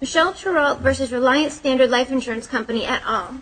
Michelle Treault v. Reliance Standard Life Insurance Company, et al.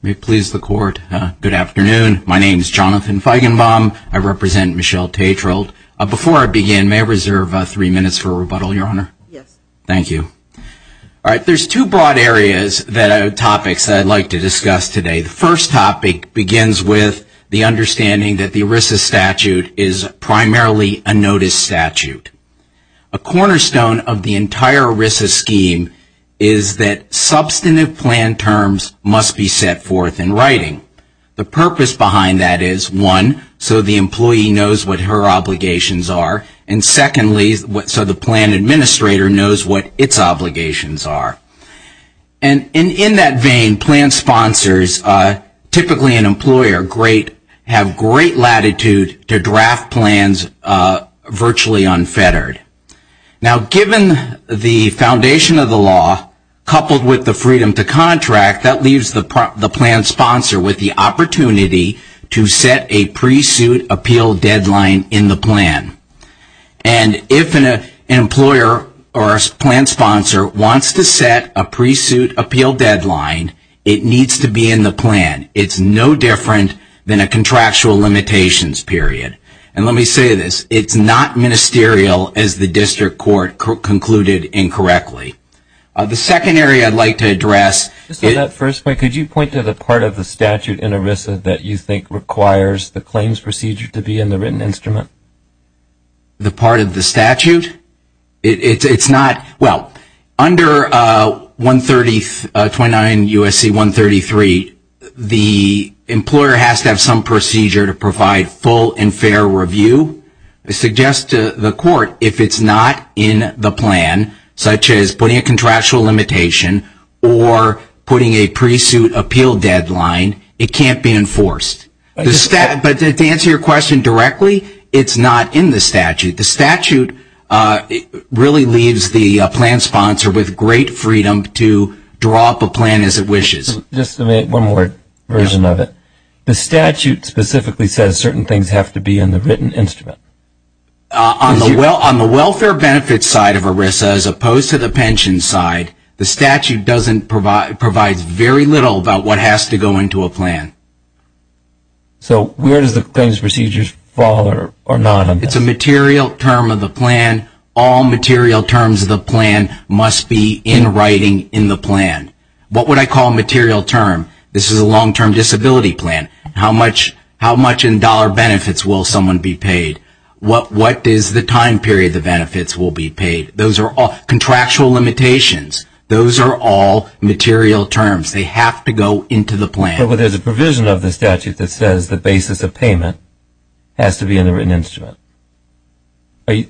May it please the Court, good afternoon. My name is Jonathan Feigenbaum. I represent Michelle Treault. Before I begin, may I reserve three minutes for rebuttal, Your Honor? Yes. Thank you. All right, there's two broad areas, topics that I'd like to discuss today. The first topic begins with the understanding that the ERISA statute is primarily a notice statute. A cornerstone of the entire ERISA scheme is that substantive plan terms must be set forth in writing. The purpose behind that is, one, so the employee knows what her obligations are, and secondly, so the plan administrator knows what its obligations are. And in that vein, plan sponsors, typically an employer, have great latitude to draft plans virtually unfettered. Now given the foundation of the law, coupled with the freedom to contract, that leaves the plan sponsor with the opportunity to set a pre-suit appeal deadline in the plan. And if an employer or plan sponsor wants to set a pre-suit appeal deadline, it needs to be in the plan. It's no different than a contractual limitations period. And let me point to the part of the statute in ERISA that you think requires the claims procedure to be in the written instrument. The part of the statute? It's not, well, under 139 U.S.C. 133, the employer has to have some procedure to provide full and fair deadline. It can't be enforced. But to answer your question directly, it's not in the statute. The statute really leaves the plan sponsor with great freedom to draw up a plan as it wishes. Just one more version of it. The statute specifically says certain things have to be in the written instrument. On the welfare benefits side of ERISA as opposed to the pension side, the statute provides very little about what has to go into a plan. So where does the claims procedure fall on that? It's a material term of the plan. All material terms of the plan must be in writing in the plan. What would I call a material term? This is a long-term disability plan. How much in dollar benefits will someone be paid? What is the time period the benefits will be paid? Those are all contractual limitations. Those are all material terms. They have to go into the plan. But there's a provision of the statute that says the basis of payment has to be in the written instrument. I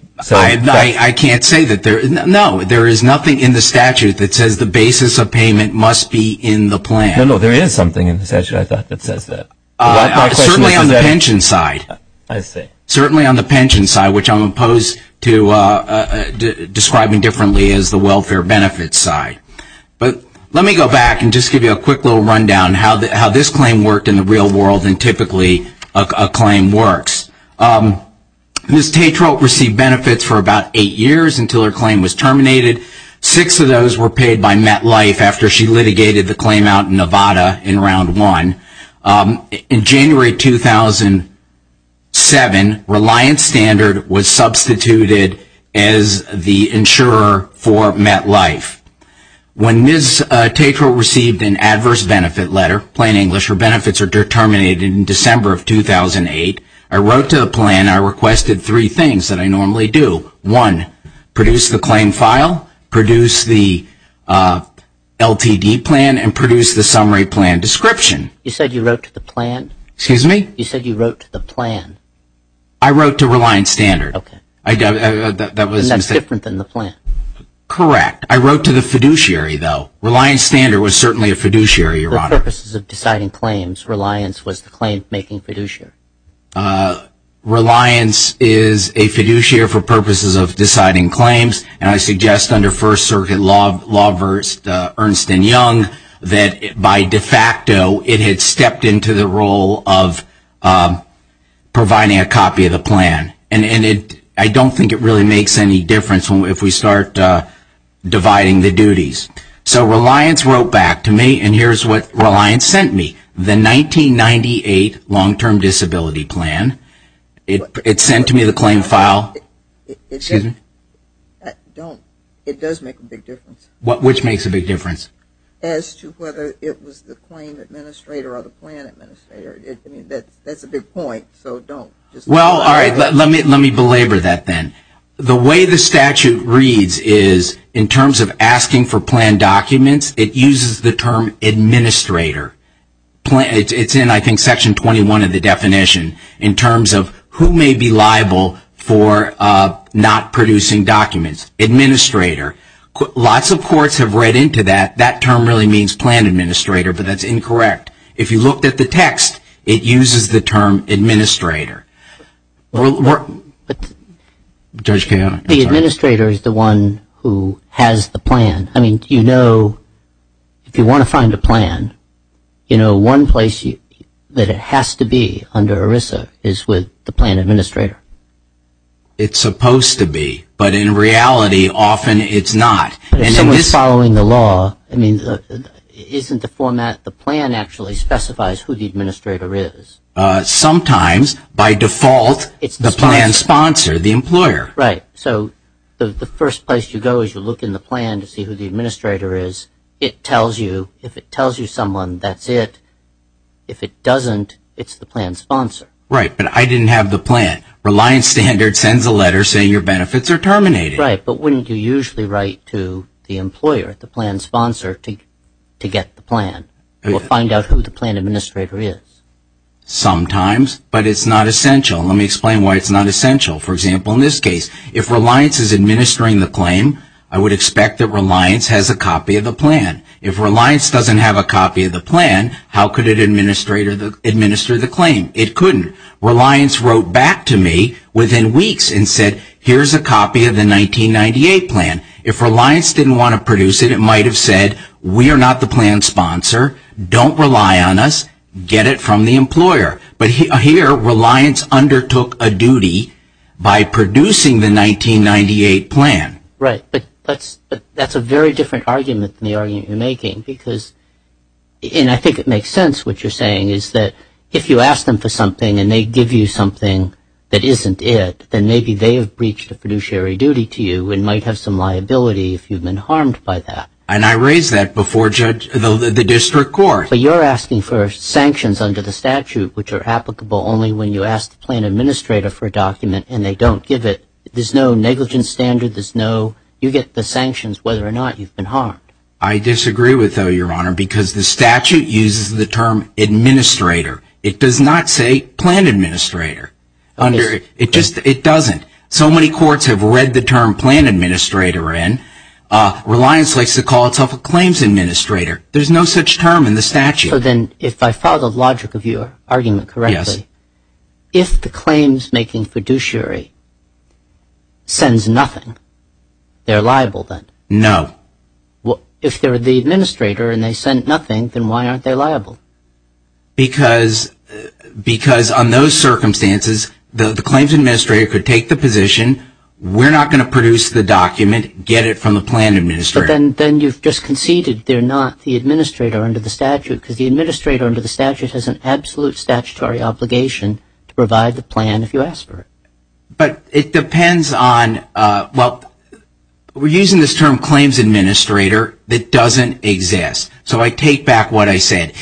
can't say that. No, there is nothing in the statute that says the basis of payment must be in the plan. No, no, there is something in the statute, I thought, that says that. Certainly on the pension side. I see. Certainly on the pension side, which I'm opposed to describing differently as the welfare benefits side. But let me go back and just give you a quick little rundown how this claim worked in the real world and typically a claim works. Ms. Tatro received benefits for about eight years until her claim was terminated. Six of those were paid by MetLife after she litigated the claim out in Nevada in round one. In January 2007, Reliance Standard was substituted as the insurer for MetLife. When Ms. Tatro received an adverse benefit letter, plain English, her benefits were terminated in December of 2008. I wrote to the plan. I requested three things that I normally do. One, produce the claim file, produce the LTD plan, and produce the summary plan description. You said you wrote to the plan? Excuse me? You said you wrote to the plan? I wrote to Reliance Standard. Okay. And that's different than the plan? Correct. I wrote to the fiduciary, though. Reliance Standard was certainly a fiduciary, Your Honor. For purposes of deciding claims, Reliance was the claim-making fiduciary? Reliance is a fiduciary for purposes of deciding claims. And I suggest under First Circuit law versed Ernst & Young that by de facto it had stepped into the role of providing a copy of the plan. And I don't think it really makes any difference if we start dividing the duties. So Reliance wrote back to me, and here's what Reliance sent me. The 1998 long-term disability plan. It sent me the claim file. Excuse me? Don't. It does make a big difference. Which makes a big difference? As to whether it was the claim administrator or the plan administrator. I mean, that's a big point, so don't. Well, all right. Let me belabor that then. The way the statute reads is in terms of asking for plan documents, it uses the term administrator. It's in, I think, Section 21 of the definition in terms of who may be liable for not producing documents. Administrator. Lots of courts have read into that. That term really means plan administrator, but that's incorrect. If you looked at the text, it uses the term administrator. Judge Kahan? The administrator is the one who has the plan. I mean, you know, if you want to find a plan, you know one place that it has to be under ERISA is with the plan administrator. It's supposed to be, but in reality often it's not. If someone's following the law, isn't the format, the plan actually specifies who the administrator is? Sometimes. By default, it's the plan sponsor, the employer. Right. So the first place you go is you look in the plan to see who the administrator is. It tells you. If it tells you someone, that's it. If it doesn't, it's the plan sponsor. Right, but I didn't have the plan. Reliance Standards sends a letter saying your benefits are terminated. Right, but wouldn't you usually write to the employer, the plan sponsor, to get the plan? We'll find out who the plan administrator is. Sometimes, but it's not essential. Let me explain why it's not essential. For example, in this case, if Reliance is administering the claim, I would expect that Reliance has a copy of the plan. If Reliance doesn't have a copy of the plan, how could it administer the claim? It couldn't. Reliance wrote back to me within weeks and said, here's a copy of the 1998 plan. If Reliance didn't want to produce it, it might have said, we are not the plan sponsor. Don't rely on us. Get it from the employer. But here, Reliance undertook a duty by producing the 1998 plan. Right, but that's a very different argument than the argument you're making. And I think it makes sense what you're saying is that if you ask them for something and they give you something that isn't it, then maybe they have breached a fiduciary duty to you and might have some liability if you've been harmed by that. And I raised that before the district court. But you're asking for sanctions under the statute which are applicable only when you ask the plan administrator for a document and they don't give it. There's no negligence standard. You get the sanctions whether or not you've been harmed. I disagree with that, Your Honor, because the statute uses the term administrator. It does not say plan administrator. It doesn't. So many courts have read the term plan administrator in. Reliance likes to call itself a claims administrator. There's no such term in the statute. So then if I follow the logic of your argument correctly, if the claims making fiduciary sends nothing, they're liable then? No. Well, if they're the administrator and they sent nothing, then why aren't they liable? Because on those circumstances, the claims administrator could take the position, we're not going to produce the document, get it from the plan administrator. But then you've just conceded they're not the administrator under the statute, because the administrator under the statute has an absolute statutory obligation to provide the plan if you ask for it. But it depends on, well, we're using this term claims administrator that doesn't exist. So I take back what I said.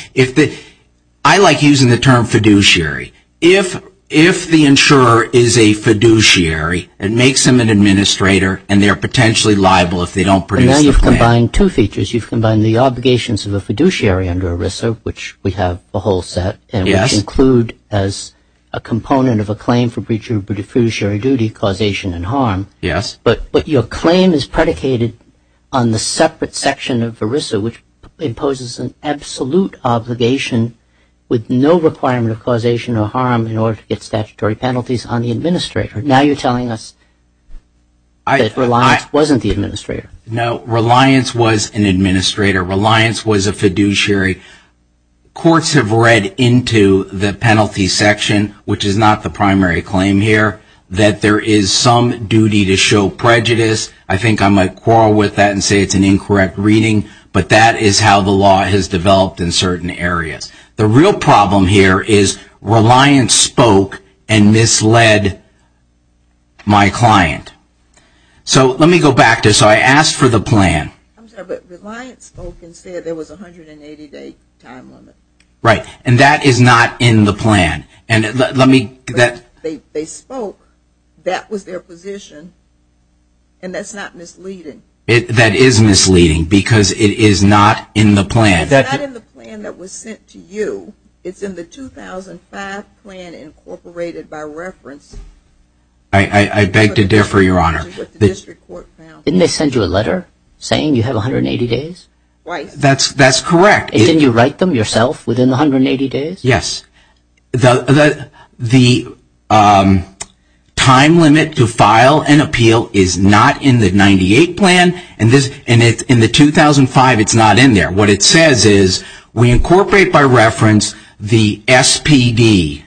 I like using the term fiduciary. If the insurer is a fiduciary, it makes them an administrator, and they're potentially liable if they don't produce the plan. But now you've combined two features. You've combined the obligations of a fiduciary under ERISA, which we have the whole set, and which include as a component of a claim for breach of fiduciary duty, causation and harm. Yes. But your claim is predicated on the separate section of ERISA, which imposes an absolute obligation with no requirement of causation or harm in order to get statutory penalties on the administrator. Now you're telling us that Reliance wasn't the administrator. No, Reliance was an administrator. Reliance was a fiduciary. Courts have read into the penalty section, which is not the primary claim here, that there is some duty to show prejudice. I think I might quarrel with that and say it's an incorrect reading, but that is how the law has developed in certain areas. The real problem here is Reliance spoke and misled my client. So let me go back to, so I asked for the plan. I'm sorry, but Reliance spoke and said there was a 180-day time limit. Right, and that is not in the plan. They spoke, that was their position, and that's not misleading. That is misleading because it is not in the plan. It's not in the plan that was sent to you. It's in the 2005 plan incorporated by reference. I beg to differ, Your Honor. Didn't they send you a letter saying you have 180 days? That's correct. Didn't you write them yourself within the 180 days? Yes. The time limit to file an appeal is not in the 1998 plan, and in the 2005 it's not in there. What it says is we incorporate by reference the SPD.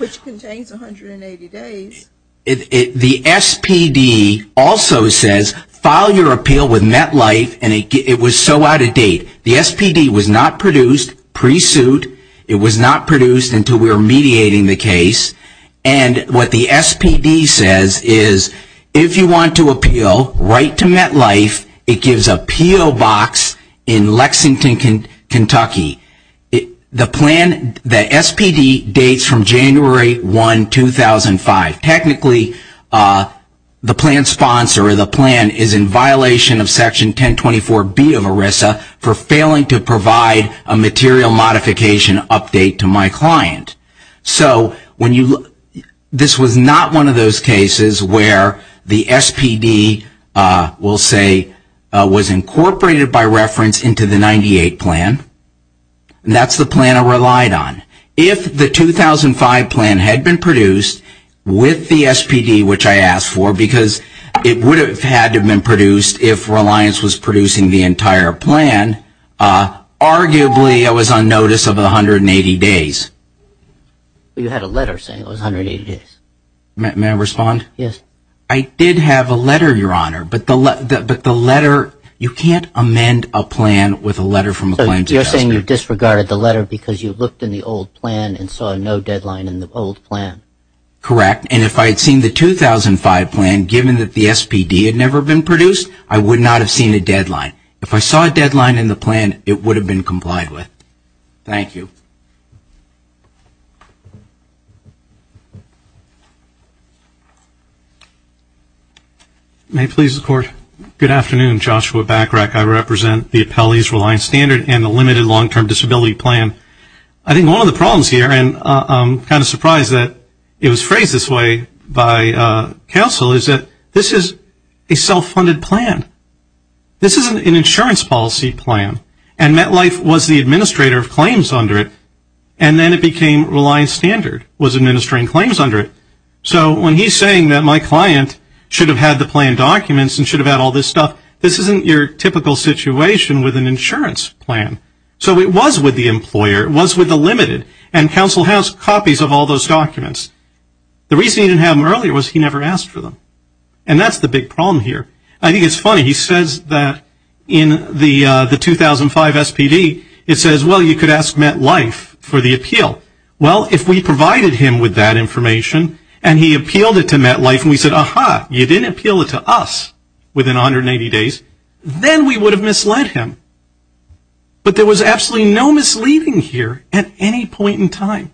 Which contains 180 days. The SPD also says file your appeal with MetLife, and it was so out of date. The SPD was not produced pre-suit. It was not produced until we were mediating the case. And what the SPD says is if you want to appeal, write to MetLife. It gives a PO box in Lexington, Kentucky. The plan, the SPD dates from January 1, 2005. Technically the plan sponsor or the plan is in violation of section 1024B of ERISA for failing to provide a material modification update to my client. So this was not one of those cases where the SPD, we'll say, was incorporated by reference into the 98 plan. That's the plan I relied on. If the 2005 plan had been produced with the SPD, which I asked for, because it would have had to have been produced if Reliance was producing the entire plan, arguably I was on notice of the 180 days. You had a letter saying it was 180 days. May I respond? Yes. I did have a letter, Your Honor, but the letter, you can't amend a plan with a letter from a client. You're saying you disregarded the letter because you looked in the old plan and saw no deadline in the old plan. Correct. And if I had seen the 2005 plan, given that the SPD had never been produced, I would not have seen a deadline. If I saw a deadline in the plan, it would have been complied with. Thank you. May it please the Court. Good afternoon. Joshua Backrack. I represent the Appellee's Reliance Standard and the Limited Long-Term Disability Plan. I think one of the problems here, and I'm kind of surprised that it was phrased this way by counsel, is that this is a self-funded plan. This is an insurance policy plan, and MetLife was the administrator of claims under it, and then it became Reliance Standard was administering claims under it. So when he's saying that my client should have had the plan documents and should have had all this stuff, this isn't your typical situation with an insurance plan. So it was with the employer, it was with the Limited, and counsel has copies of all those documents. The reason he didn't have them earlier was he never asked for them, and that's the big problem here. I think it's funny. He says that in the 2005 SPD, it says, well, you could ask MetLife for the appeal. Well, if we provided him with that information and he appealed it to MetLife and we said, aha, you didn't appeal it to us within 180 days, then we would have misled him. But there was absolutely no misleading here at any point in time.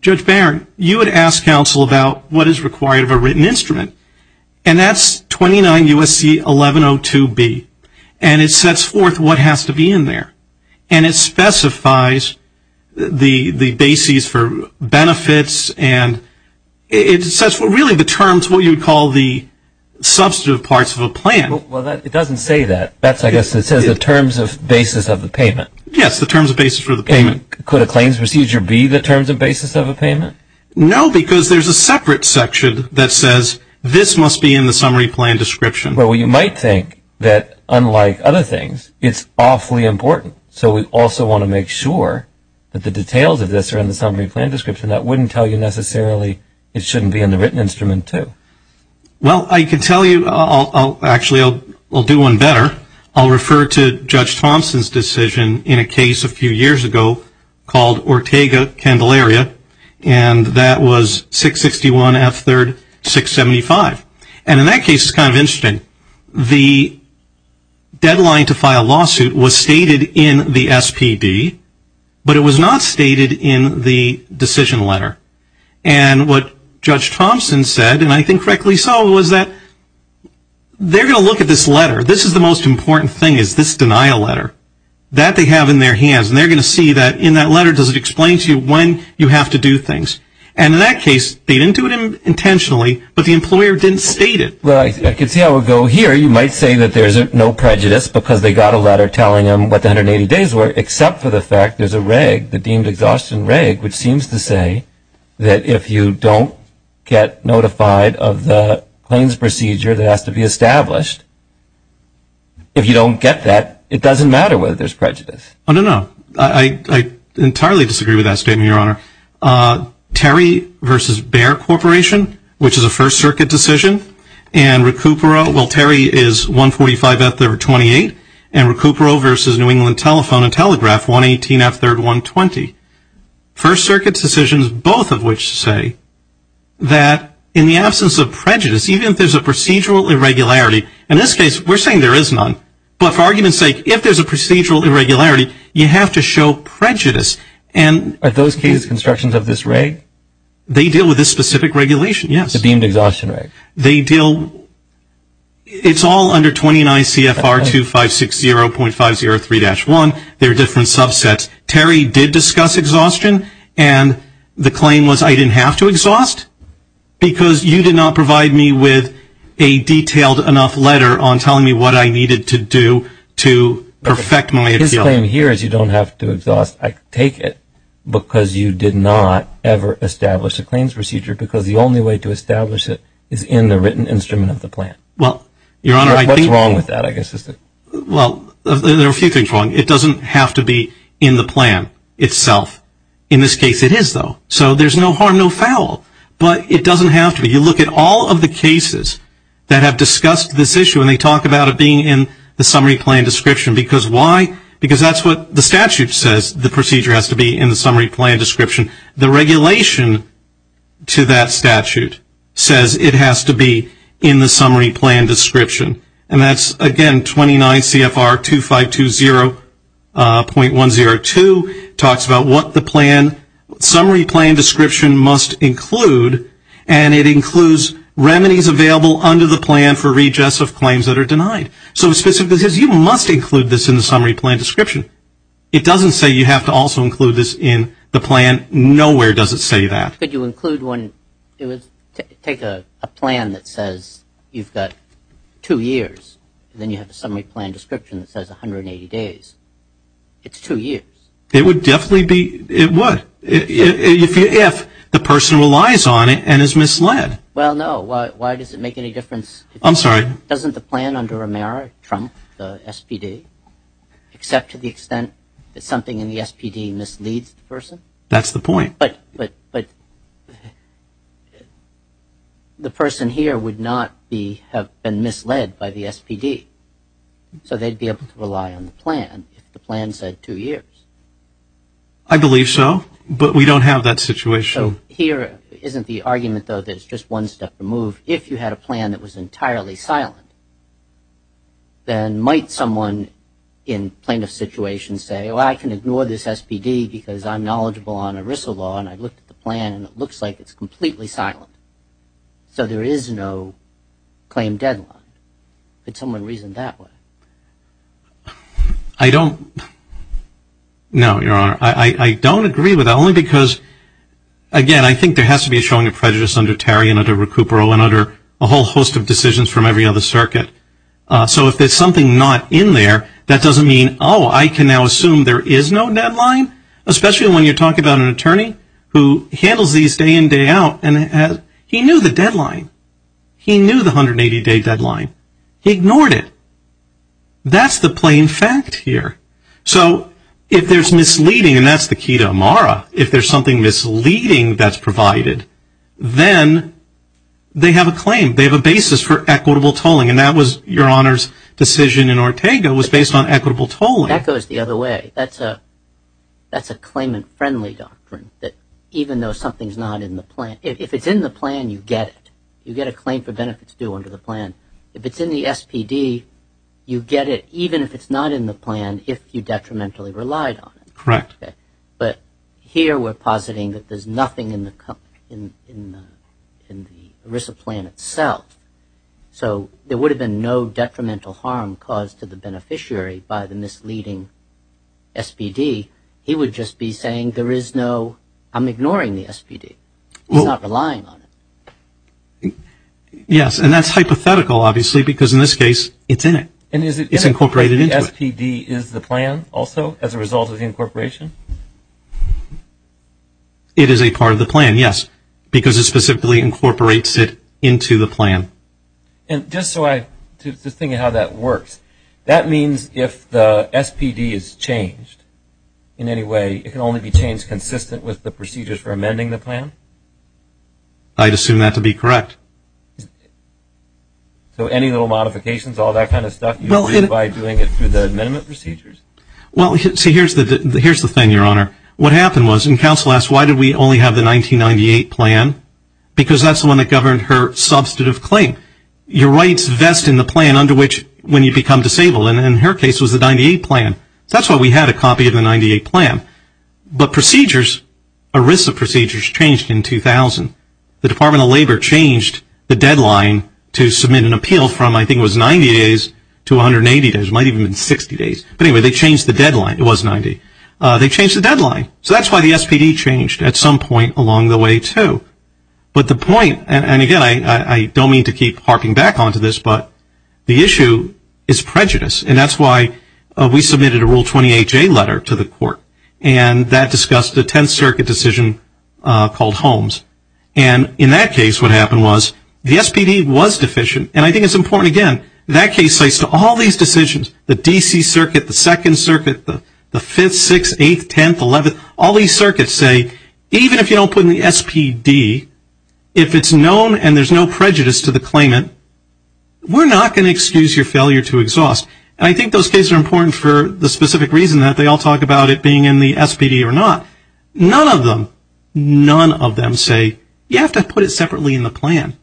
Judge Barron, you had asked counsel about what is required of a written instrument, and that's 29 U.S.C. 1102B, and it sets forth what has to be in there, and it specifies the bases for benefits, and it sets really the terms, what you would call the substantive parts of a plan. Well, it doesn't say that. I guess it says the terms of basis of the payment. Yes, the terms of basis for the payment. Could a claims procedure be the terms of basis of a payment? No, because there's a separate section that says this must be in the summary plan description. Well, you might think that, unlike other things, it's awfully important. So we also want to make sure that the details of this are in the summary plan description. That wouldn't tell you necessarily it shouldn't be in the written instrument, too. Well, I can tell you. Actually, I'll do one better. I'll refer to Judge Thompson's decision in a case a few years ago called Ortega-Candelaria, and that was 661 F3rd 675. And in that case, it's kind of interesting. The deadline to file a lawsuit was stated in the SPD, but it was not stated in the decision letter. And what Judge Thompson said, and I think correctly so, was that they're going to look at this letter. This is the most important thing is this denial letter that they have in their hands, and they're going to see that in that letter does it explain to you when you have to do things. And in that case, they didn't do it intentionally, but the employer didn't state it. Well, I can see how it would go here. You might say that there's no prejudice because they got a letter telling them what the 180 days were, except for the fact there's a reg, the deemed exhaustion reg, which seems to say that if you don't get notified of the claims procedure that has to be established, if you don't get that, it doesn't matter whether there's prejudice. Oh, no, no. I entirely disagree with that statement, Your Honor. Terry versus Bayer Corporation, which is a First Circuit decision, and Recupero, well, Terry is 145F328, and Recupero versus New England Telephone and Telegraph, 118F3120. First Circuit decisions, both of which say that in the absence of prejudice, even if there's a procedural irregularity, in this case, we're saying there is none, but for argument's sake, if there's a procedural irregularity, you have to show prejudice. Are those cases constructions of this reg? They deal with this specific regulation, yes. The deemed exhaustion reg. It's all under 29 CFR 2560.503-1. There are different subsets. Terry did discuss exhaustion, and the claim was I didn't have to exhaust because you did not provide me with a detailed enough letter on telling me what I needed to do to perfect my appeal. His claim here is you don't have to exhaust, I take it, because you did not ever establish a claims procedure because the only way to establish it is in the written instrument of the plan. What's wrong with that, I guess? Well, there are a few things wrong. It doesn't have to be in the plan itself. In this case, it is, though, so there's no harm, no foul, but it doesn't have to be. You look at all of the cases that have discussed this issue, and they talk about it being in the summary plan description. Why? Because that's what the statute says, the procedure has to be in the summary plan description. The regulation to that statute says it has to be in the summary plan description. And that's, again, 29 CFR 2520.102, talks about what the summary plan description must include, and it includes remedies available under the plan for redress of claims that are denied. So it specifically says you must include this in the summary plan description. It doesn't say you have to also include this in the plan. Nowhere does it say that. Could you include one, take a plan that says you've got two years, and then you have a summary plan description that says 180 days. It's two years. It would definitely be, it would. If the person relies on it and is misled. Well, no. Why does it make any difference? I'm sorry. Doesn't the plan under Romero trump the SPD, except to the extent that something in the SPD misleads the person? That's the point. But the person here would not have been misled by the SPD, so they'd be able to rely on the plan if the plan said two years. I believe so. But we don't have that situation. So here isn't the argument, though, that it's just one step to move. If you had a plan that was entirely silent, then might someone in plaintiff situations say, well, I can ignore this SPD because I'm knowledgeable on ERISA law and I've looked at the plan and it looks like it's completely silent. So there is no claim deadline. Could someone reason that way? I don't. No, Your Honor. I don't agree with that, only because, again, I think there has to be a showing of prejudice under Terry and under Recupero and under a whole host of decisions from every other circuit. So if there's something not in there, that doesn't mean, oh, I can now assume there is no deadline, especially when you're talking about an attorney who handles these day in, day out. He knew the deadline. He knew the 180-day deadline. He ignored it. That's the plain fact here. So if there's misleading, and that's the key to Amara, if there's something misleading that's provided, then they have a claim. They have a basis for equitable tolling, and that was Your Honor's decision in Ortega was based on equitable tolling. That goes the other way. That's a claimant-friendly doctrine, that even though something's not in the plan, if it's in the plan, you get it. You get a claim for benefits due under the plan. If it's in the SPD, you get it. Even if it's not in the plan, if you detrimentally relied on it. Correct. But here we're positing that there's nothing in the ERISA plan itself. So there would have been no detrimental harm caused to the beneficiary by the misleading SPD. He would just be saying there is no, I'm ignoring the SPD. He's not relying on it. Yes, and that's hypothetical, obviously, because in this case, it's in it. It's incorporated into it. And is it because the SPD is the plan also as a result of the incorporation? It is a part of the plan, yes, because it specifically incorporates it into the plan. And just so I, just thinking how that works, that means if the SPD is changed in any way, it can only be changed consistent with the procedures for amending the plan? I'd assume that to be correct. So any little modifications, all that kind of stuff, you do it by doing it through the amendment procedures? Well, see, here's the thing, Your Honor. What happened was, and counsel asked, why did we only have the 1998 plan? Because that's the one that governed her substantive claim. Your rights vest in the plan under which when you become disabled, and in her case it was the 98 plan. That's why we had a copy of the 98 plan. But procedures, ERISA procedures changed in 2000. The Department of Labor changed the deadline to submit an appeal from, I think it was 90 days to 180 days. It might have even been 60 days. But anyway, they changed the deadline. It was 90. They changed the deadline. So that's why the SPD changed at some point along the way, too. But the point, and again, I don't mean to keep harping back onto this, but the issue is prejudice. And that's why we submitted a Rule 28J letter to the court, and that discussed the 10th Circuit decision called Holmes. And in that case what happened was the SPD was deficient. And I think it's important, again, that case says to all these decisions, the D.C. Circuit, the 2nd Circuit, the 5th, 6th, 8th, 10th, 11th, all these circuits say, even if you don't put in the SPD, if it's known and there's no prejudice to the claimant, we're not going to excuse your failure to exhaust. And I think those cases are important for the specific reason that they all talk about it being in the SPD or not. None of them, none of them say, you have to put it separately in the plan.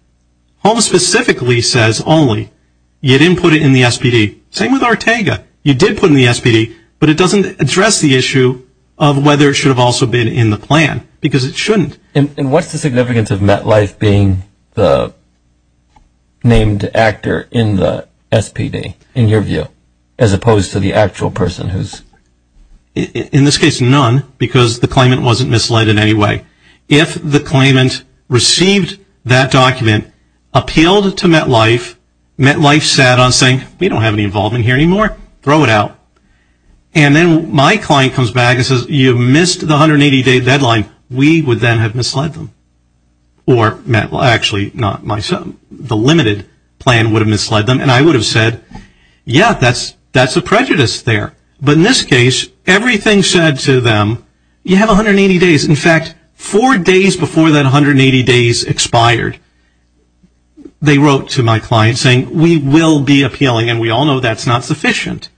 Holmes specifically says only, you didn't put it in the SPD. Same with Ortega. You did put it in the SPD, but it doesn't address the issue of whether it should have also been in the plan, because it shouldn't. And what's the significance of MetLife being the named actor in the SPD, in your view, as opposed to the actual person who's? In this case, none, because the claimant wasn't misled in any way. If the claimant received that document, appealed to MetLife, MetLife sat on saying, we don't have any involvement here anymore. Throw it out. And then my client comes back and says, you missed the 180-day deadline. We would then have misled them. Or MetLife, actually not myself, the limited plan would have misled them, and I would have said, yeah, that's a prejudice there. But in this case, everything said to them, you have 180 days. In fact, four days before that 180 days expired, they wrote to my client saying, we will be appealing, and we all know that's not sufficient.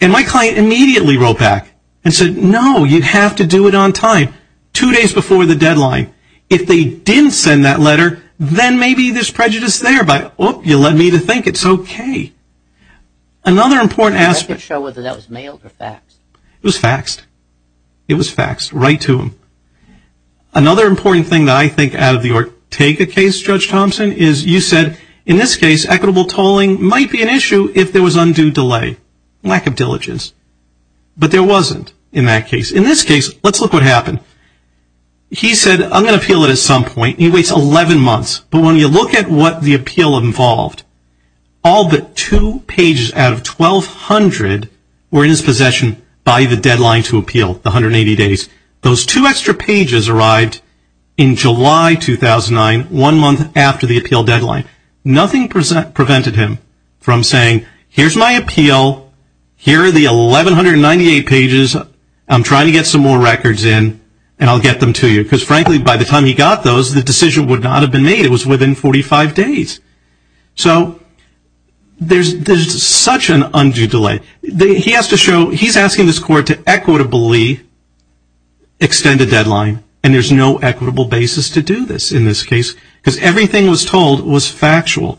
And my client immediately wrote back and said, no, you have to do it on time, two days before the deadline. If they didn't send that letter, then maybe there's prejudice there, but, oop, you led me to think it's okay. Another important aspect. Can you show whether that was mailed or faxed? It was faxed. It was faxed right to them. Another important thing that I think out of the Ortega case, Judge Thompson, is you said, in this case, equitable tolling might be an issue if there was undue delay, lack of diligence. But there wasn't in that case. In this case, let's look what happened. He said, I'm going to appeal it at some point. He waits 11 months. But when you look at what the appeal involved, all but two pages out of 1,200 were in his possession by the deadline to appeal, the 180 days. Those two extra pages arrived in July 2009, one month after the appeal deadline. Nothing prevented him from saying, here's my appeal, here are the 1,198 pages, I'm trying to get some more records in, and I'll get them to you. Because, frankly, by the time he got those, the decision would not have been made. It was within 45 days. So there's such an undue delay. He has to show, he's asking this Court to equitably extend a deadline, and there's no equitable basis to do this in this case, because everything was told was factual.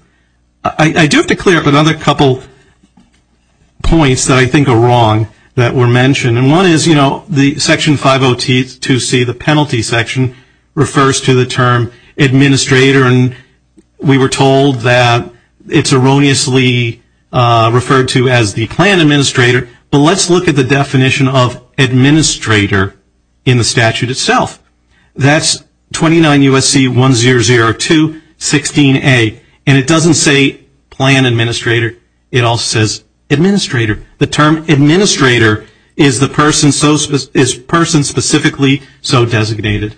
I do have to clear up another couple points that I think are wrong that were mentioned. And one is, you know, Section 502C, the penalty section, refers to the term administrator, and we were told that it's erroneously referred to as the plan administrator. But let's look at the definition of administrator in the statute itself. That's 29 U.S.C. 1002-16A, and it doesn't say plan administrator, it also says administrator. The term administrator is the person specifically so designated.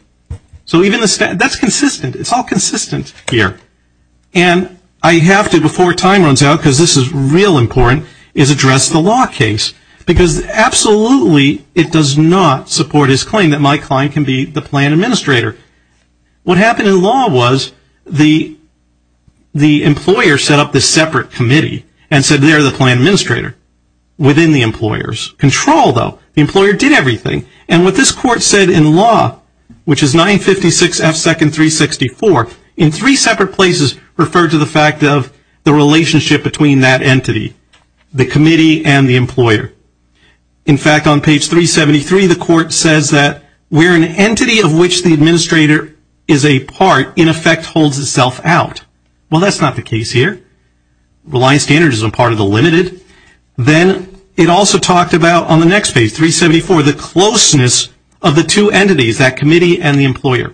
So that's consistent. It's all consistent here. And I have to, before time runs out, because this is real important, is address the law case. Because absolutely it does not support his claim that my client can be the plan administrator. What happened in law was the employer set up this separate committee and said they're the plan administrator within the employer's control, though. The employer did everything. And what this court said in law, which is 956 F. 2nd. 364, in three separate places referred to the fact of the relationship between that entity, the committee and the employer. In fact, on page 373, the court says that we're an entity of which the administrator is a part, in effect holds itself out. Well, that's not the case here. Reliant standards is a part of the limited. Then it also talked about on the next page, 374, the closeness of the two entities, that committee and the employer.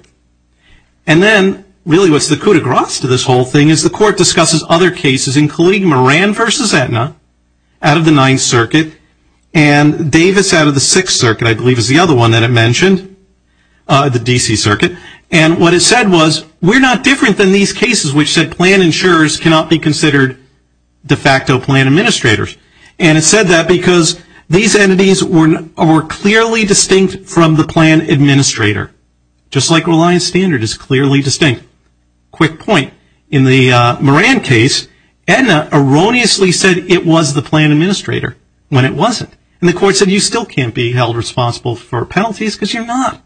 And then really what's the coup de grace to this whole thing is the court discusses other cases, including Moran v. Aetna out of the Ninth Circuit and Davis out of the Sixth Circuit, I believe is the other one that it mentioned, the D.C. Circuit. And what it said was we're not different than these cases, which said plan insurers cannot be considered de facto plan administrators. And it said that because these entities were clearly distinct from the plan administrator. Just like Reliant standard is clearly distinct. Quick point. In the Moran case, Aetna erroneously said it was the plan administrator when it wasn't. And the court said you still can't be held responsible for penalties because you're not.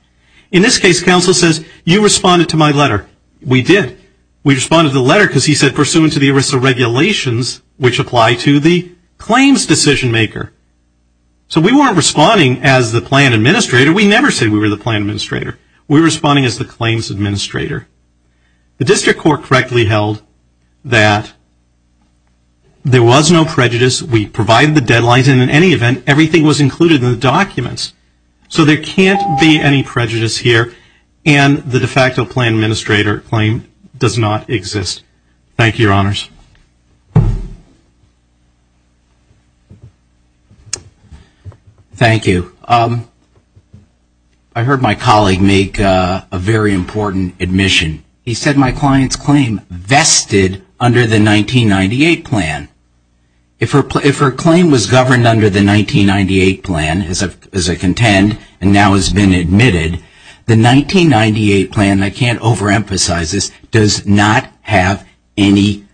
In this case, counsel says you responded to my letter. We did. We responded to the letter because he said pursuant to the ERISA regulations, which apply to the claims decision maker. So we weren't responding as the plan administrator. We never said we were the plan administrator. We were responding as the claims administrator. The district court correctly held that there was no prejudice. We provided the deadlines. And in any event, everything was included in the documents. So there can't be any prejudice here. And the de facto plan administrator claim does not exist. Thank you, Your Honors. Thank you. I heard my colleague make a very important admission. He said my client's claim vested under the 1998 plan. If her claim was governed under the 1998 plan as a contend and now has been admitted, the 1998 plan, and I can't overemphasize this, does not have any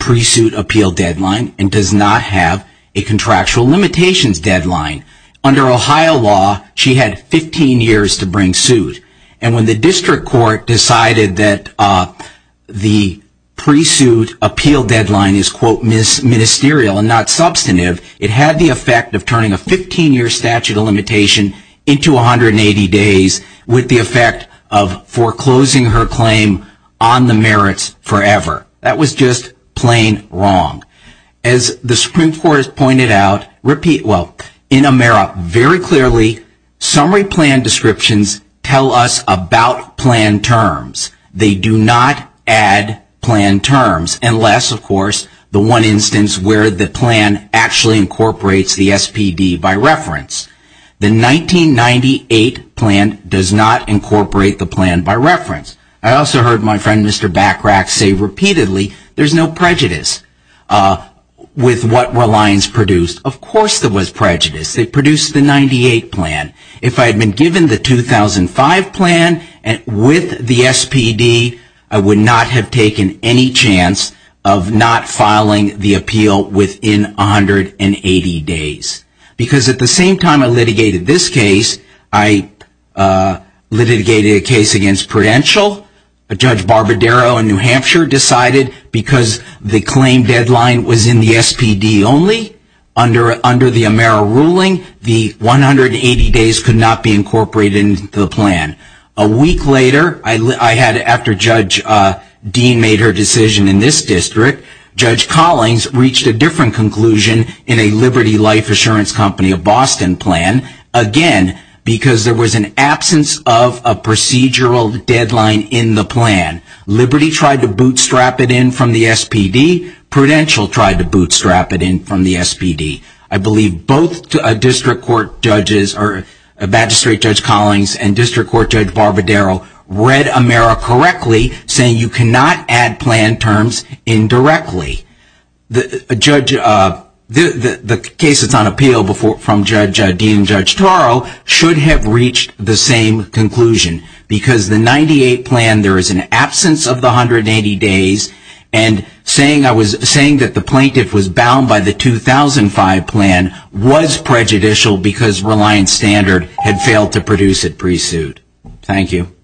pre-suit appeal deadline and does not have a contractual limitations deadline. Under Ohio law, she had 15 years to bring suit. And when the district court decided that the pre-suit appeal deadline is, quote, ministerial and not substantive, it had the effect of turning a 15-year statute of limitation into 180 days with the effect of foreclosing her claim on the merits forever. That was just plain wrong. As the Supreme Court has pointed out, repeat, well, in Amera, very clearly summary plan descriptions tell us about plan terms. They do not add plan terms unless, of course, the one instance where the plan actually incorporates the SPD by reference. The 1998 plan does not incorporate the plan by reference. I also heard my friend Mr. Bachrach say repeatedly there's no prejudice with what Reliance produced. Of course there was prejudice. They produced the 98 plan. If I had been given the 2005 plan with the SPD, I would not have taken any chance of not filing the appeal within 180 days. Because at the same time I litigated this case, I litigated a case against Prudential. Judge Barbadero in New Hampshire decided because the claim deadline was in the SPD only, under the Amera ruling, the 180 days could not be incorporated into the plan. A week later, after Judge Dean made her decision in this district, Judge Collings reached a different conclusion in a Liberty Life Assurance Company of Boston plan. Again, because there was an absence of a procedural deadline in the plan. Liberty tried to bootstrap it in from the SPD. Prudential tried to bootstrap it in from the SPD. I believe both district court judges, Magistrate Judge Collings and District Court Judge Barbadero, read Amera correctly saying you cannot add plan terms indirectly. The case that's on appeal from Judge Dean and Judge Toro should have reached the same conclusion. Because the 98 plan, there is an absence of the 180 days, and saying I was saying that the plaintiff was bound by the 2005 plan was prejudicial because Reliance Standard had failed to produce it pre-suit. Thank you.